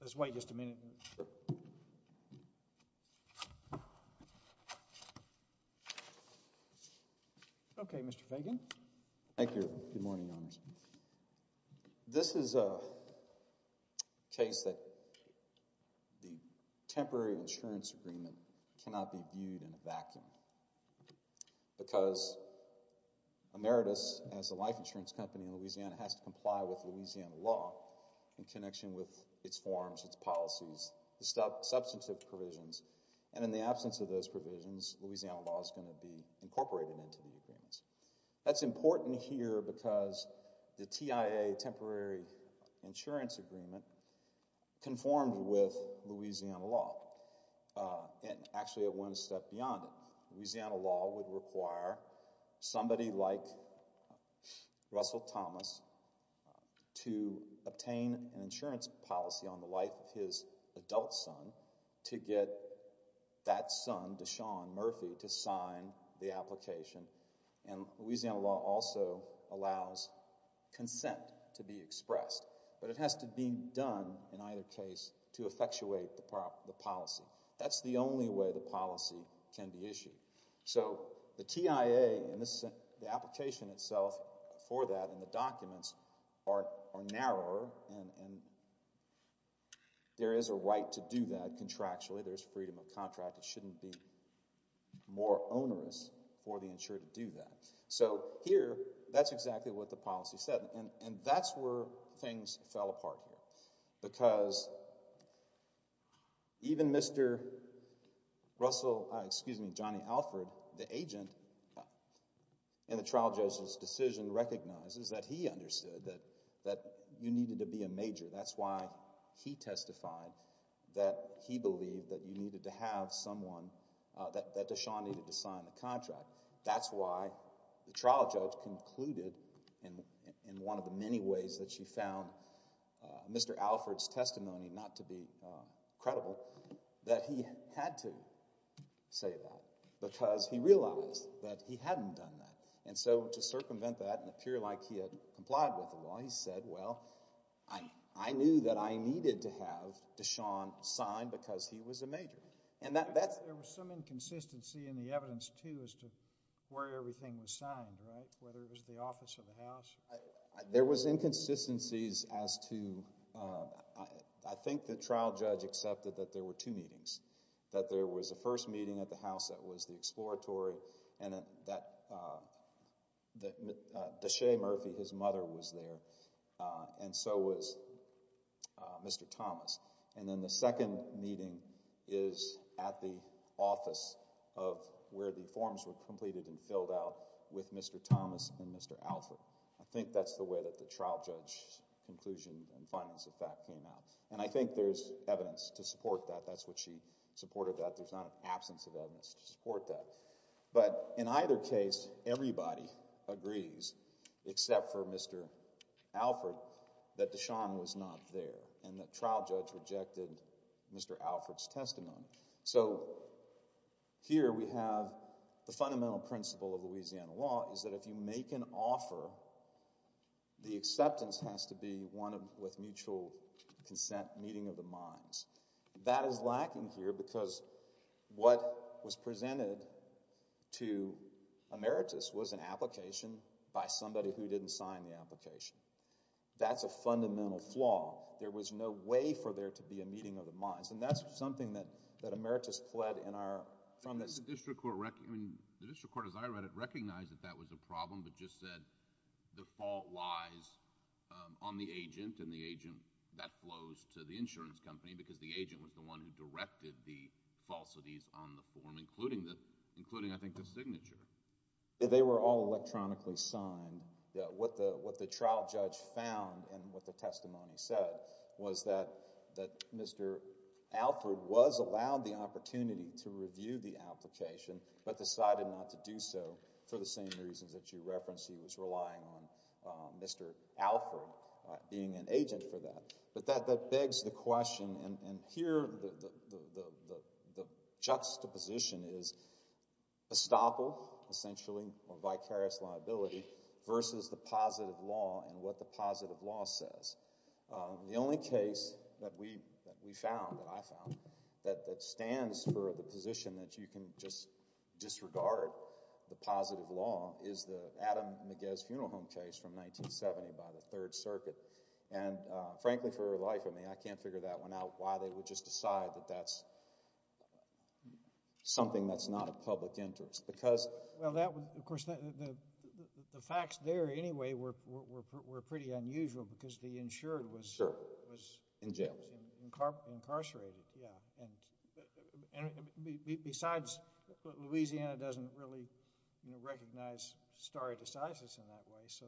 Let's wait just a minute. Okay, Mr. Fagan. Thank you. Good morning, Your Honors. This is a case that the temporary insurance agreement cannot be viewed in a vacuum because Ameritas, as a life insurance company in Louisiana, has to comply with Louisiana law in connection with its forms, its policies, its substantive provisions. And in the absence of those provisions, Louisiana law is going to be incorporated into the agreements. That's important here because the TIA, Temporary Insurance Agreement, conformed with Louisiana law. And actually it went a step beyond it. Louisiana law would require somebody like Russell Thomas to obtain an insurance policy on the life of his adult son to get that son, Deshaun Murphy, to sign the application. And Louisiana law also allows consent to be expressed. But it has to be done in either case to effectuate the policy. That's the only way the policy can be issued. So the TIA and the application itself for that and the documents are narrower and there is a right to do that contractually. There's freedom of contract. It shouldn't be more onerous for the insurer to do that. So here, that's exactly what the policy said. And that's where things fell apart here. Because even Mr. Johnny Alford, the agent, in the trial judge's decision recognizes that he understood that you needed to be a major. That's why he testified that he believed that you needed to have someone, that Deshaun needed to sign the contract. That's why the trial judge concluded in one of the many ways that she found Mr. Alford's testimony not to be credible, that he had to say that because he realized that he hadn't done that. And so to circumvent that and appear like he had complied with the law, he said, well, I knew that I needed to have Deshaun sign because he was a major. There was some inconsistency in the evidence, too, as to where everything was signed, right? Whether it was the office of the House. There was inconsistencies as to, I think the trial judge accepted that there were two meetings. That there was a first meeting at the House that was the exploratory and that Deshaun Murphy, his mother, was there and so was Mr. Thomas. And then the second meeting is at the office of where the forms were completed and filled out with Mr. Thomas and Mr. Alford. I think that's the way that the trial judge's conclusion and findings of fact came out. And I think there's evidence to support that. That's what she supported that. There's not an absence of evidence to support that. But in either case, everybody agrees, except for Mr. Alford, that Deshaun was not there and the trial judge rejected Mr. Alford's testimony. So here we have the fundamental principle of Louisiana law is that if you make an offer, the acceptance has to be one with mutual consent meeting of the minds. That is lacking here because what was presented to Emeritus was an application by somebody who didn't sign the application. That's a fundamental flaw. There was no way for there to be a meeting of the minds. And that's something that Emeritus pled in our... The district court, as I read it, recognized that that was a problem but just said the fault lies on the agent and the agent, that flows to the insurance company because the agent was the one who directed the falsities on the form, including I think the signature. They were all electronically signed. What the trial judge found and what the testimony said was that Mr. Alford was allowed the opportunity to review the application but decided not to do so for the same reasons that you referenced. He was relying on Mr. Alford being an agent for that. But that begs the question, and here the juxtaposition is estoppel, essentially, or vicarious liability versus the positive law and what the positive law says. The only case that we found, that I found, that stands for the position that you can just disregard the positive law is the Adam McGehee's funeral home case from 1970 by the Third Circuit. And frankly, for the life of me, I can't figure that one out, why they would just decide that that's something that's not a public interest because... Well, of course, the facts there anyway were pretty unusual because the insured was... Sure, in jail... was incarcerated, yeah. And besides, Louisiana doesn't really, you know, recognize stare decisis in that way, so...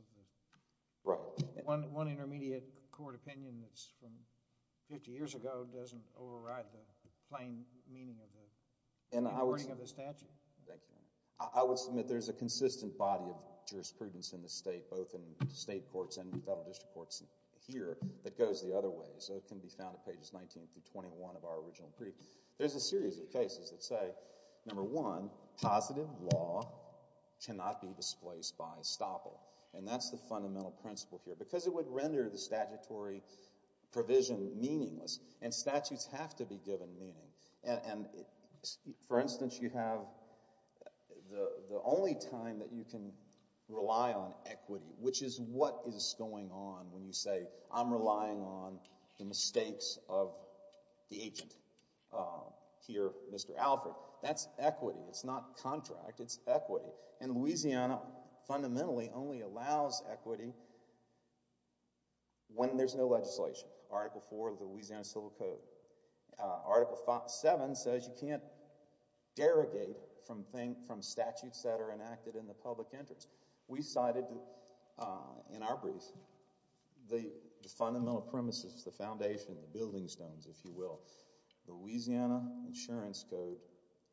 Right... One intermediate court opinion that's from 50 years ago doesn't override the plain meaning of the statute. Thank you. I would submit there's a consistent body of jurisprudence in the state, both in state courts and federal district courts here, that goes the other way. So it can be found at that the positive law cannot be displaced by estoppel. And that's the fundamental principle here because it would render the statutory provision meaningless. And statutes have to be given meaning. And for instance, you have the only time that you can rely on equity, which is what is going on when you say I'm relying on the mistakes of the agent here, Mr. Alfred. That's equity. It's not contract. It's equity. And Louisiana fundamentally only allows equity when there's no legislation. Article 4 of the Louisiana Civil Code. Article 7 says you can't derogate from statutes that are enacted in the public interest. We cited, in our brief, the fundamental premises, the foundation, the building stones, if you will. The Louisiana Insurance Code,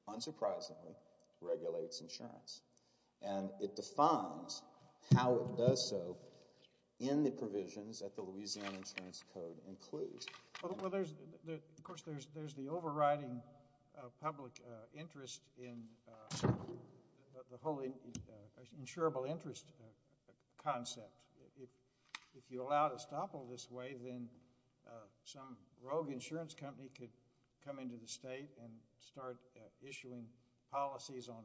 unsurprisingly, regulates insurance. And it defines how it does so in the provisions that the Louisiana Insurance Code includes. Well, there's, of course, there's the overriding public interest in the whole insurable interest concept. If you allow estoppel this way, then some rogue insurance company could come into the state and start issuing policies on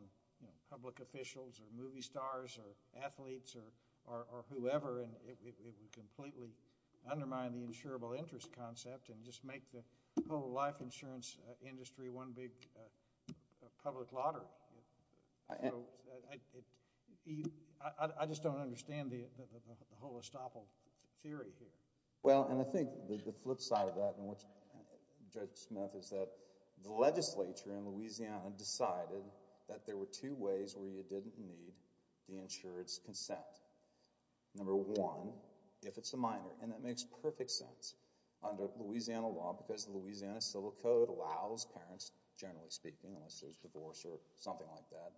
public officials or movie stars or athletes or whoever, and it would completely undermine the insurable interest. I just don't understand the whole estoppel theory here. Well, and I think the flip side of that, Judge Smith, is that the legislature in Louisiana decided that there were two ways where you didn't need the insurance consent. Number one, if it's a minor, and that makes perfect sense under Louisiana law because the Louisiana Civil Code allows parents, generally speaking, unless there's divorce or something like that,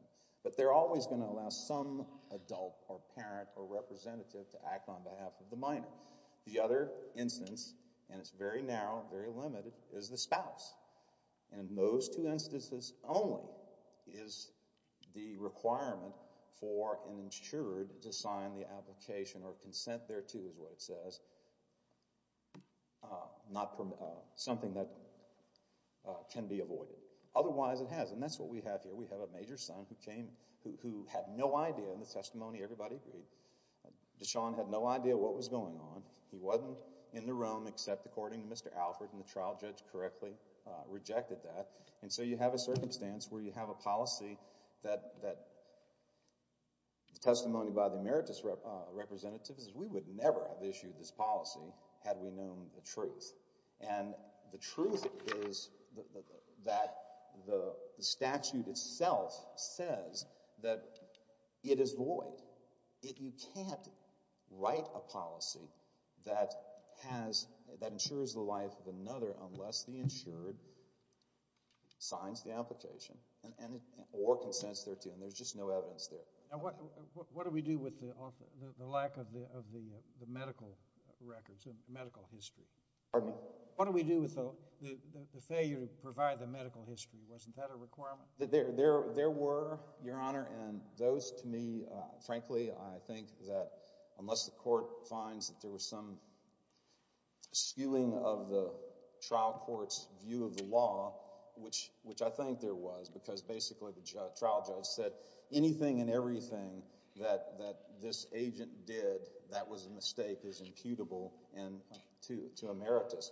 but they're always going to allow some adult or parent or representative to act on behalf of the minor. The other instance, and it's very narrow, very limited, is the spouse. In those two instances only is the requirement for an insured to sign the application or consent thereto is what it says, but not something that can be avoided. Otherwise, it has, and that's what we have here. We have a major son who came, who had no idea in the testimony, everybody agreed, Deshaun had no idea what was going on. He wasn't in the room except according to Mr. Alford, and the trial judge correctly rejected that, and so you have a circumstance where you have a policy that the testimony by the emeritus representative says we would never have issued this policy had we known the truth, and the truth is that the statute itself says that it is void. If you can't write a policy that has, that ensures the life of another unless the insured signs the application or consents thereto, and there's just no evidence there. Now, what do we do with the lack of the medical records, the medical history? Pardon me? What do we do with the failure to provide the medical history? Wasn't that a requirement? There were, Your Honor, and those to me, frankly, I think that unless the court finds that there was some skewing of the trial court's view of the law, which I think there was because basically the trial judge said anything and everything that this agent did that was a mistake is imputable to emeritus.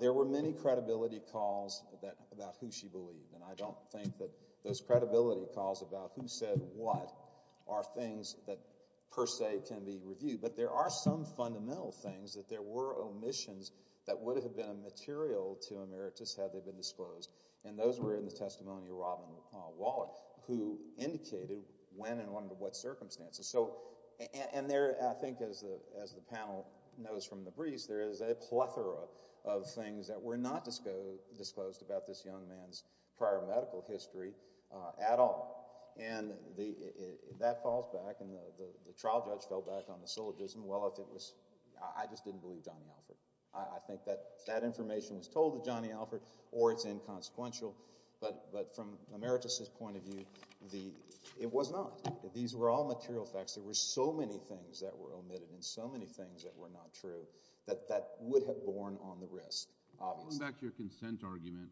There were many credibility calls about who she believed, and I don't think that those credibility calls about who said what are things that per se can be reviewed, but there are some fundamental things that there were omissions that would have been a material to emeritus had they been disclosed, and those were in the testimony of Robin Waller, who indicated when and under what circumstances. So, and there, I think as the panel knows from the briefs, there is a plethora of things that were not disclosed about this young man's prior medical history at all, and that falls back, and the trial judge fell back on the syllogism. Well, if it was, I just didn't believe Johnny Alford. I think that that information was told to Johnny Alford or it's inconsequential, but from emeritus' point of view, it was not. These were all material facts. There were so many things that were omitted and so many things that were not true that that would have borne on the wrist, obviously. Going back to your consent argument,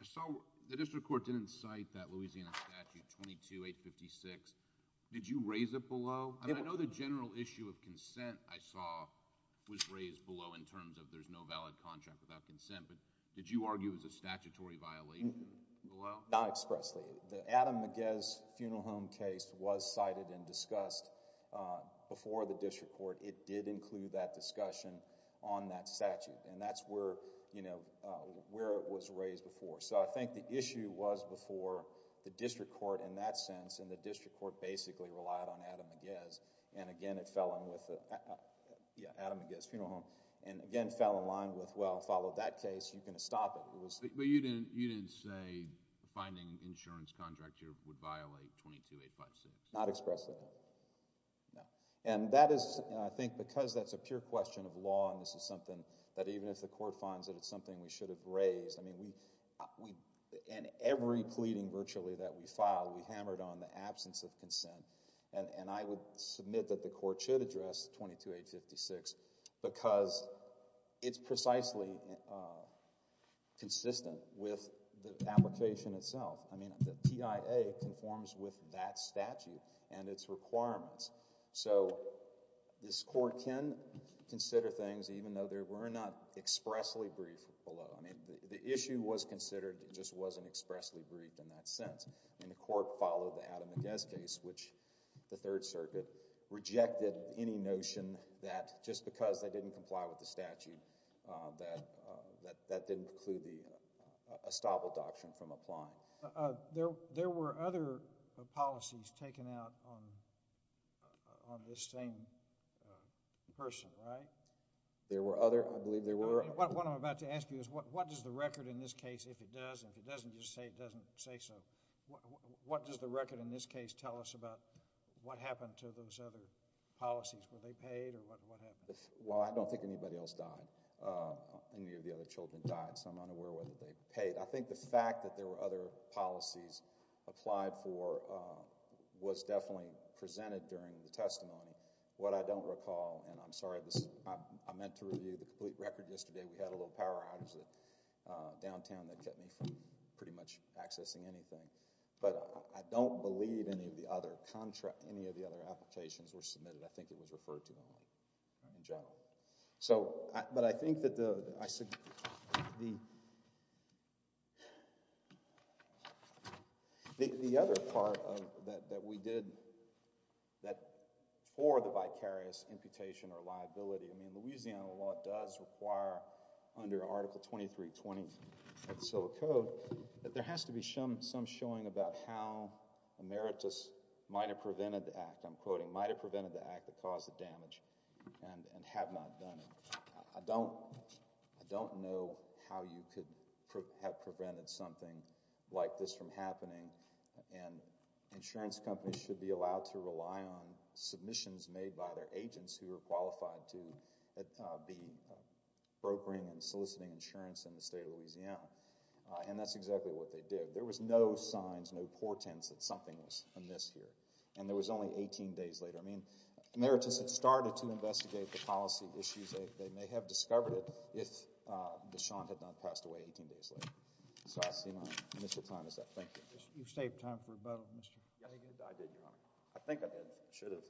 I saw the district court didn't cite that Louisiana statute 22-856. Did you raise it below? I mean, I know the general issue of consent I saw was raised below in terms of there's no valid contract without consent, but did you argue it was a statutory violation below? Not expressly. The Adam McGez Funeral Home case was cited and discussed before the district court. It did include that discussion on that statute, and that's where, you know, where it was raised before. So I think the issue was before the district court in that sense, and the district court basically relied on Adam McGez, and again, it fell in with the, yeah, Adam McGez Funeral Home, and again, fell in line with, well, follow that case, you can stop it. But you didn't say finding insurance contract here would violate 22-856? Not expressly, no. And that is, I think, because that's a pure question of law and this is something that even if the court finds that it's something we should have raised, I mean, we, in every pleading virtually that we filed, we hammered on the absence of consent, and I would submit that the court should address 22-856 because it's precisely consistent with the application itself. I mean, the PIA conforms with that statute and its requirements. So this court can consider things even though they were not expressly briefed below. I mean, the issue was considered, it just wasn't expressly briefed in that sense, and the court followed the Adam McGez case, which the Third Circuit rejected any notion that just because they didn't comply with the statute that that didn't preclude the estoppel doctrine from applying. There were other policies taken out on this same person, right? There were other, I believe there were. What I'm about to ask you is what does the record in this case, if it does, and if it doesn't, just say it doesn't say so, what does the record in this case tell us about what happened to those other policies? Were they paid or what happened? Well, I don't think anybody else died. Any of the other children died, so I'm unaware whether they paid. I think the fact that there were other policies applied for was definitely presented during the testimony. What I don't recall, and I'm sorry, I meant to review the complete record yesterday. We had a little power outage downtown that kept me from pretty much accessing anything, but I don't believe any of the other applications were submitted. I think it was referred to only in general. But I think that the other part that we did for the vicarious imputation or liability, I mean, Louisiana law does require under Article 2320 of the Civil Code that there has to be some showing about how emeritus might have prevented the act that caused the damage and have not done it. I don't know how you could have prevented something like this from happening, and insurance companies should be allowed to rely on submissions made by their agents who are qualified to be brokering and soliciting insurance in the state of Louisiana, and that's exactly what they did. There was no signs, no portents that something was amiss here. And there was only 18 days later. I mean, emeritus had started to investigate the policy issues. They may have discovered it if Deshaun had not passed away 18 days later. So I see my initial time is up. Thank you. You saved time for both, Mr. Yes, I did, Your Honor. I think I did. I should have.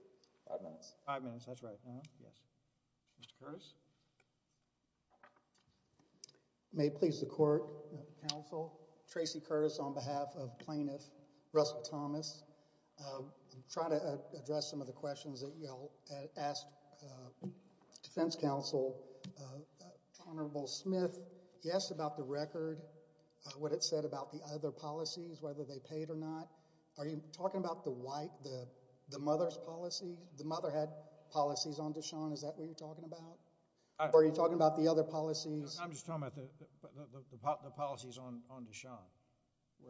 Five minutes. Five minutes. That's right. Yes. Mr. Curtis? May it please the court, counsel. Tracy Curtis on behalf of plaintiff Russell Thomas. I'm trying to address some of the questions that y'all asked defense counsel. Honorable Smith, he asked about the record, what it said about the other policies, whether they paid or not. Are you talking about the white, the mother's policy? The mother had policies on Deshaun. Is that what you're talking about? Are you talking about the other policies? I'm just talking about the policies on Deshaun.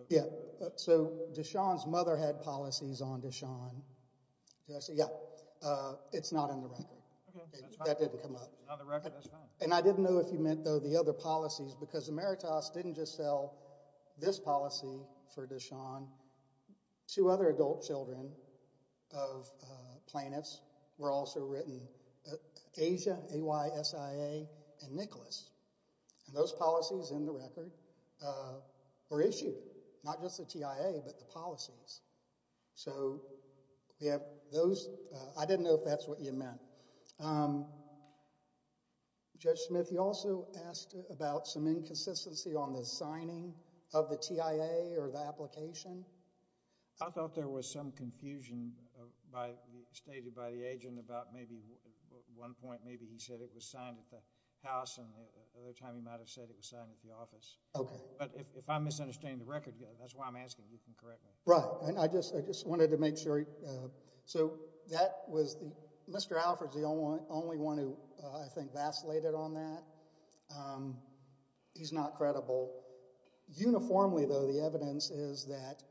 Yeah. So Deshaun's mother had policies on Deshaun. Yeah, it's not in the record. That didn't come up. And I didn't know if you meant, though, the other policies, because emeritus didn't just sell this policy for Deshaun. Two other adult children of plaintiffs were also written. Asia, AYSIA, and Nicholas. And those policies in the record were issued, not just the TIA, but the policies. So we have those. I didn't know if that's what you meant. Judge Smith, you also asked about some inconsistency on the signing of the TIA or the application. I thought there was some confusion stated by the agent about maybe at one point maybe he said it was signed at the house and the other time he might have said it was signed at the office. Okay. But if I'm misunderstanding the record, that's why I'm asking you to correct me. Right. And I just wanted to make sure. So that was the, Mr. Alford's the only one who I think vacillated on that. He's not credible. Uniformly, though, the evidence is that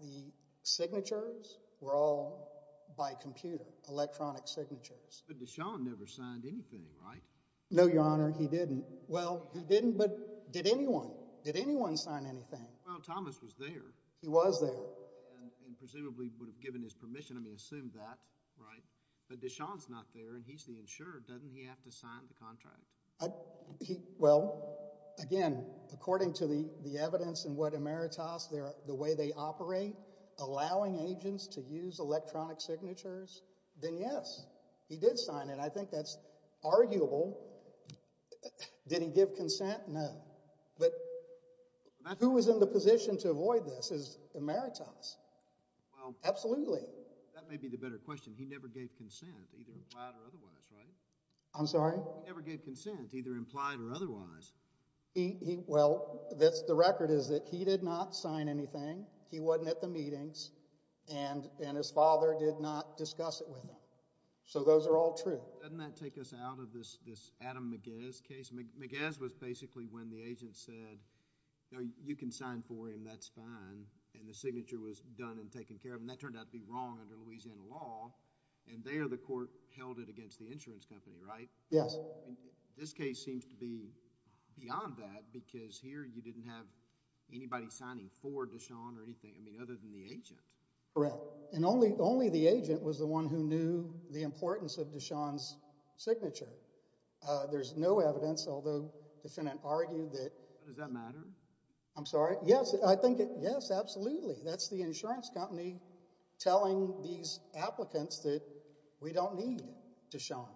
the signatures were all by computer, electronic signatures. But Deshaun never signed anything, right? No, Your Honor, he didn't. Well, he didn't, but did anyone? Did anyone sign anything? Well, Thomas was there. He was there. And presumably would have given his permission. I mean, assume that, right? But Deshaun's not there and he's the insurer. Doesn't he have to sign the contract? He, well, again, according to the evidence and what Emeritus, the way they operate, allowing agents to use electronic signatures, then yes, he did sign it. I think that's arguable. Did he give consent? No. But who was in the position to avoid this is Emeritus. Well, absolutely. That may be the better question. He never gave consent, either flat or otherwise, right? I'm sorry? He never gave consent, either implied or otherwise. Well, the record is that he did not sign anything. He wasn't at the meetings and his father did not discuss it with him. So those are all true. Doesn't that take us out of this Adam McGez case? McGez was basically when the agent said, you can sign for him, that's fine. And the signature was done and taken care of. And that turned out to be wrong under Louisiana law. And there the court held it against the insurance company, right? Yes. This case seems to be beyond that because here you didn't have anybody signing for Deshawn or anything, I mean, other than the agent. Correct. And only the agent was the one who knew the importance of Deshawn's signature. There's no evidence, although the defendant argued that. Does that matter? I'm sorry? Yes, I think it, yes, absolutely. That's the insurance company telling these applicants that we don't need Deshawn.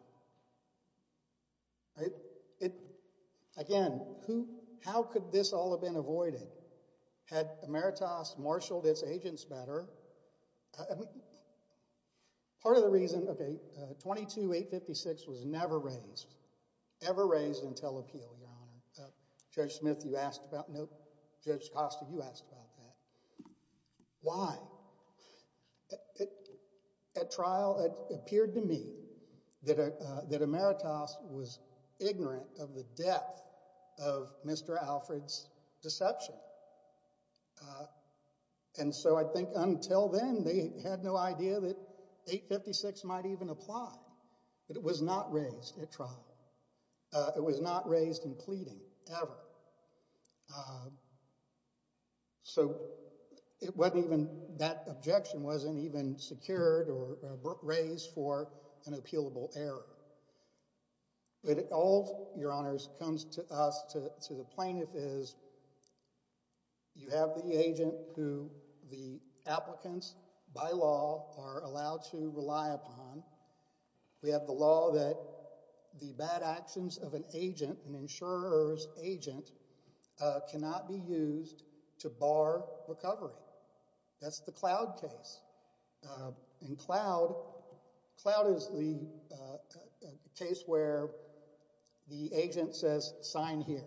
It, again, who, how could this all have been avoided? Had Emeritus marshaled its agents better? Part of the reason, okay, 22-856 was never raised, ever raised until appeal, Your Honor. Judge Smith, you asked about, no, Judge Costa, you asked about that. Why? At trial, it appeared to me that Emeritus was ignorant of the depth of Mr. Alfred's deception. And so I think until then, they had no idea that 856 might even apply, that it was not raised at trial. It was not raised in pleading, ever. So it wasn't even, that objection wasn't even secured or raised for an appealable error. But it all, Your Honors, comes to us, to the plaintiff is, you have the agent who the applicants, by law, are allowed to rely upon. We have the law that the bad actions of an agent, an insurer's agent, cannot be used to bar recovery. That's the Cloud case. In Cloud, Cloud is the case where the agent says, sign here.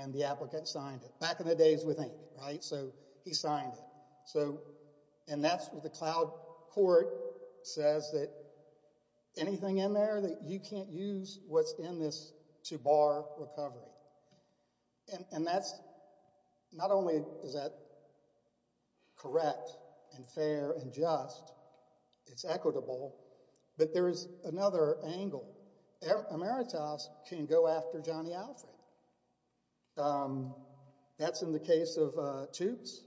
And the applicant signed it, back in the days with ink, right? So he signed it. So, and that's what the Cloud court says that anything in there that you can't use what's in this to bar recovery. And that's, not only is that correct and fair and just, it's equitable, but there is another angle. Emeritus can go after Johnny Alfred. That's in the case of TOOPS.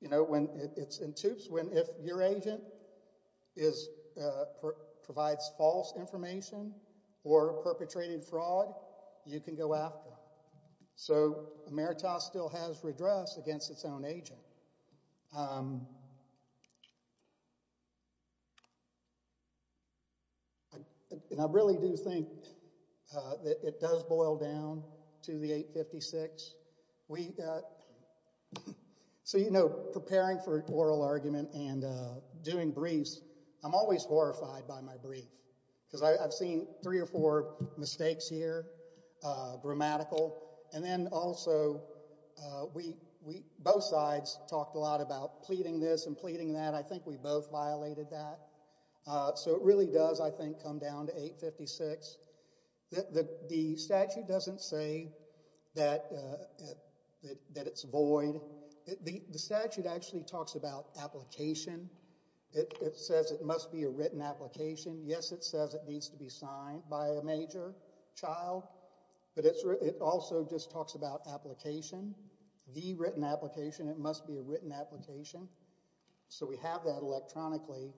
You know, when it's in TOOPS, when if your agent is, provides false information or perpetrated fraud, you can go after him. So Emeritus still has redress against its own agent. And I really do think that it does boil down to the 856. We, so you know, preparing for oral argument and doing briefs, I'm always horrified by my brief. Because I've seen three or four mistakes here, grammatical. And then also, we, both sides talked a lot about pleading this and pleading that. I think we both violated that. So it really does, I think, come down to 856. The statute doesn't say that it's void. The statute actually talks about application. It says it must be a written application. Yes, it says it needs to be signed by a major child. But it also just talks about application. The written application, it must be a written application. So we have that electronically.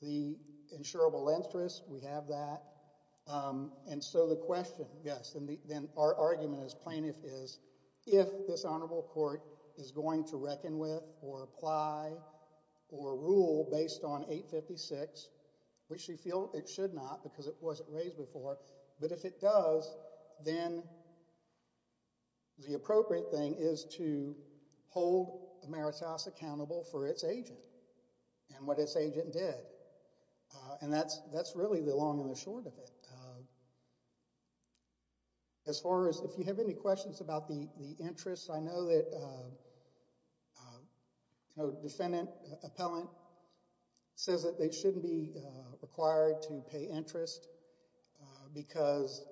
The insurable interest, we have that. And so the question, yes, then our argument as plaintiff is, if this honorable court is going to reckon with or apply or rule based on 856, which you feel it should not because it wasn't raised before. But if it does, then the appropriate thing is to hold the merits house accountable for its agent. And what its agent did. And that's really the long and the short of it. As far as if you have any questions about the interest, I know that, you know, defendant, appellant says that they shouldn't be required to pay interest because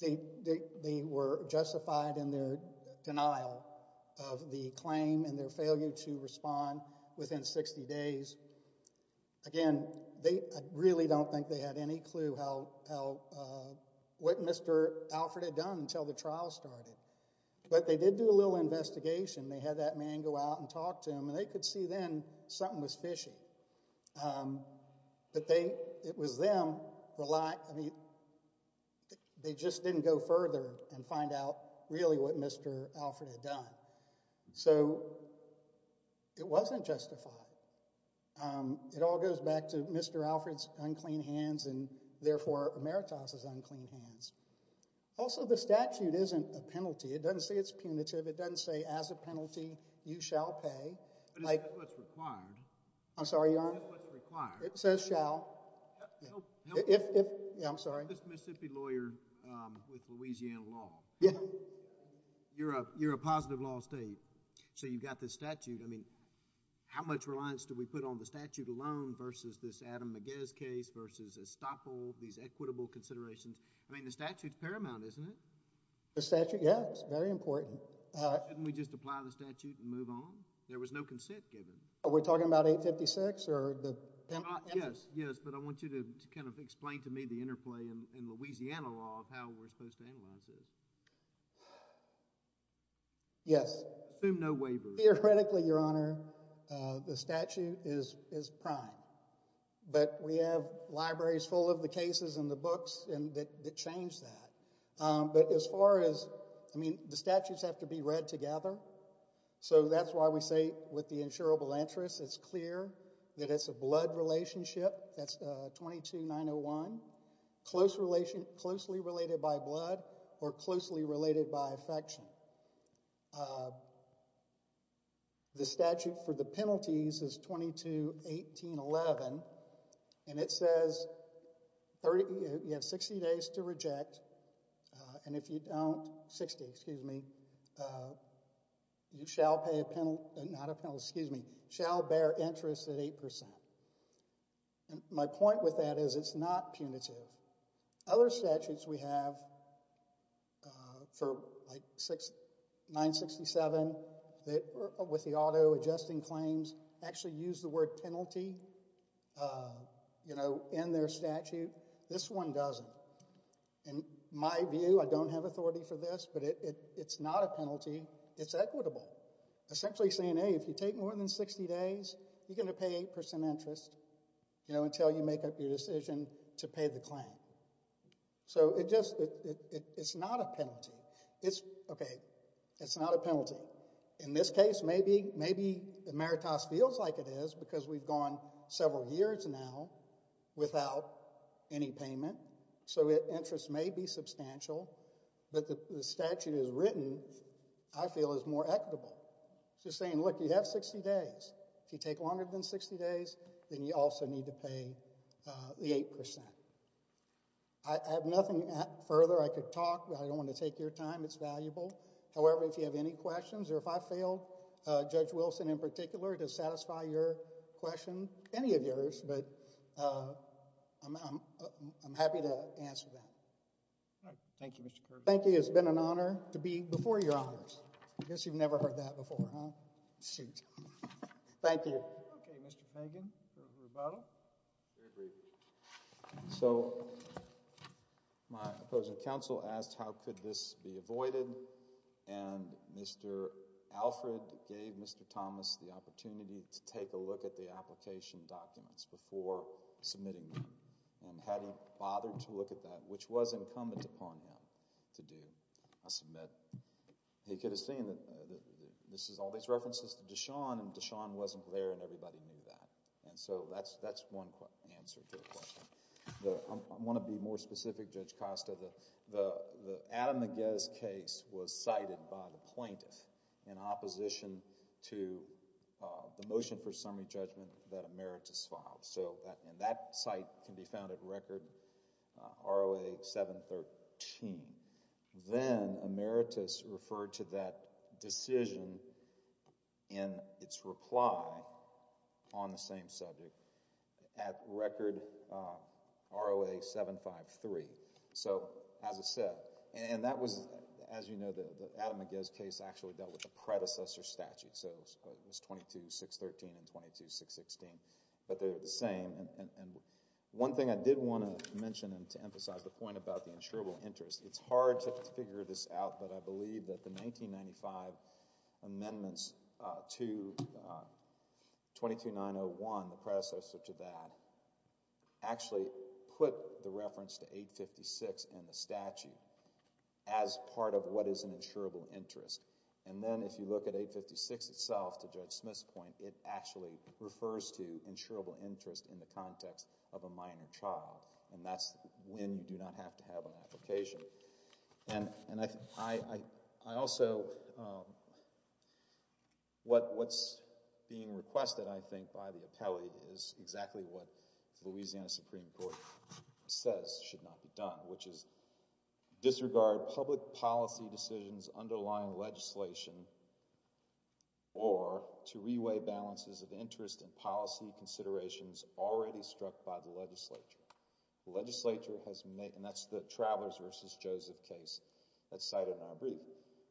they were justified in their denial of the claim and their failure to respond within 60 days. Again, they really don't think they had any clue how, what Mr. Alfred had done until the trial started. But they did do a little investigation. They had that man go out and talk to him and they could see then something was fishy. But they, it was them, I mean, they just didn't go further and find out really what Mr. Alfred had done. So it wasn't justified. It all goes back to Mr. Alfred's unclean hands and therefore Emeritus's unclean hands. Also, the statute isn't a penalty. It doesn't say it's punitive. It doesn't say as a penalty, you shall pay. But it's what's required. I'm sorry, Your Honor. It's what's required. It says shall. If, if, yeah, I'm sorry. This Mississippi lawyer with Louisiana law. Yeah. You're a, you're a positive law state. So you've got this statute. I mean, how much reliance do we put on the statute alone versus this Adam Magez case versus Estoppo, these equitable considerations? I mean, the statute's paramount, isn't it? The statute? Yeah, it's very important. Shouldn't we just apply the statute and move on? There was no consent given. Are we talking about 856 or the penalty? Yes, yes. But I want you to kind of explain to me the interplay in Louisiana law of how we're supposed to analyze this. Yes. Assume no waivers. Theoretically, Your Honor, the statute is, is prime. But we have libraries full of the cases and the books that change that. But as far as, I mean, the statutes have to be read together. So that's why we say with the insurable interest, it's clear that it's a blood relationship. That's 22901. Close relation, closely related by blood or closely related by affection. The statute for the penalties is 221811, and it says you have 60 days to reject. And if you don't, 60, excuse me, you shall pay a penalty, not a penalty, excuse me, shall bear interest at 8%. And my point with that is it's not punitive. Other statutes we have for, like, 967 that, with the auto adjusting claims, actually use the word penalty, you know, in their statute. This one doesn't. In my view, I don't have authority for this, but it's not a penalty. It's equitable. Essentially saying, hey, if you take more than 60 days, you're going to pay 8% interest, you know, until you make up your decision to pay the claim. So it just, it's not a penalty. It's, okay, it's not a penalty. In this case, maybe, maybe emeritus feels like it is because we've gone several years now without any payment. So interest may be substantial, but the statute is written, I feel, is more equitable. Just saying, look, you have 60 days. If you take longer than 60 days, then you also need to pay the 8%. I have nothing further. I could talk, but I don't want to take your time. It's valuable. However, if you have any questions, or if I failed, Judge Wilson, in particular, to satisfy your question, any of yours, but I'm happy to answer that. All right. Thank you, Mr. Kirby. Thank you. It's been an honor to be before your honors. I guess you've never heard that before, huh? Thank you. Okay, Mr. Fagan, your rebuttal. Very briefly. So my opposing counsel asked how could this be avoided, and Mr. Alfred gave Mr. Thomas the opportunity to take a look at the application documents before submitting them, and had he bothered to look at that, which was incumbent upon him to do a submit. He could have seen that this is all these references to Deshawn, and Deshawn wasn't there, and everybody knew that, and so that's one answer to the question. I want to be more specific, Judge Costa. The Adam Magez case was cited by the plaintiff in opposition to the motion for summary judgment that Emeritus filed, and that site can be found at Record ROA 713. Then Emeritus referred to that decision in its reply on the same subject at Record ROA 753. So as I said, and that was, as you know, the Adam Magez case actually dealt with the predecessor statute, so it was 22613 and 22616, but they're the same, and one thing I did want to mention and to emphasize the point about the insurable interest. It's hard to figure this out, but I believe that the 1995 amendments to 22901, the predecessor to that, actually put the reference to 856 in the statute as part of what is an insurable interest, and then if you look at 856 itself to Judge Smith's point, it actually refers to insurable interest in the context of a minor child, and that's when you do not have to have an application. And I also, what's being requested, I think, by the appellate is exactly what the Louisiana Supreme Court says should not be done, which is disregard public policy decisions underlying legislation or to reweigh balances of interest and policy considerations already struck by the legislature. The legislature has made, and that's the Travelers versus Joseph case that's cited in our brief,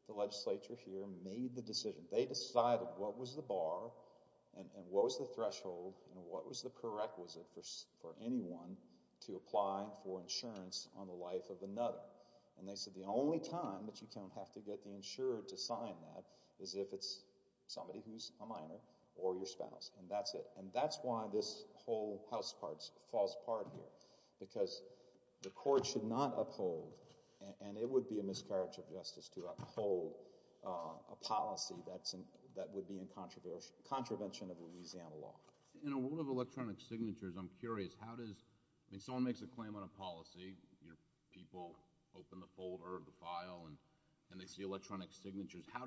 the legislature here made the decision. They decided what was the bar and what was the threshold and what was the prerequisite for anyone to apply for insurance on the life of another, and they said the only time that you're going to have to get the insurer to sign that is if it's somebody who's a minor or your spouse, and that's it. And that's why this whole House falls apart here, because the court should not uphold, and it would be a miscarriage of justice to uphold a policy that would be in contravention of Louisiana law. In a world of electronic signatures, I'm curious, how does, I mean, someone makes a file and they see electronic signatures, how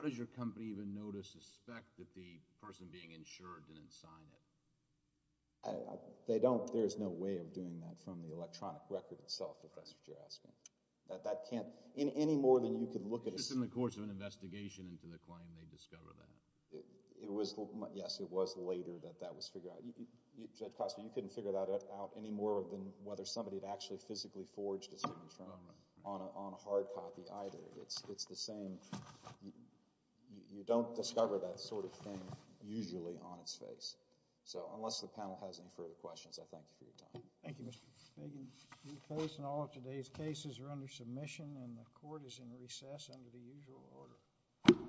does your company even know to suspect that the person being insured didn't sign it? They don't, there's no way of doing that from the electronic record itself, if that's what you're asking. That can't, any more than you could look at a- It's just in the course of an investigation into the claim, they discover that. It was, yes, it was later that that was figured out. Judge Costa, you couldn't figure that out any more than whether somebody had actually forged a signature on a hard copy either. It's the same, you don't discover that sort of thing usually on its face. So, unless the panel has any further questions, I thank you for your time. Thank you, Mr. Spagan. The case and all of today's cases are under submission and the court is in recess under the usual order.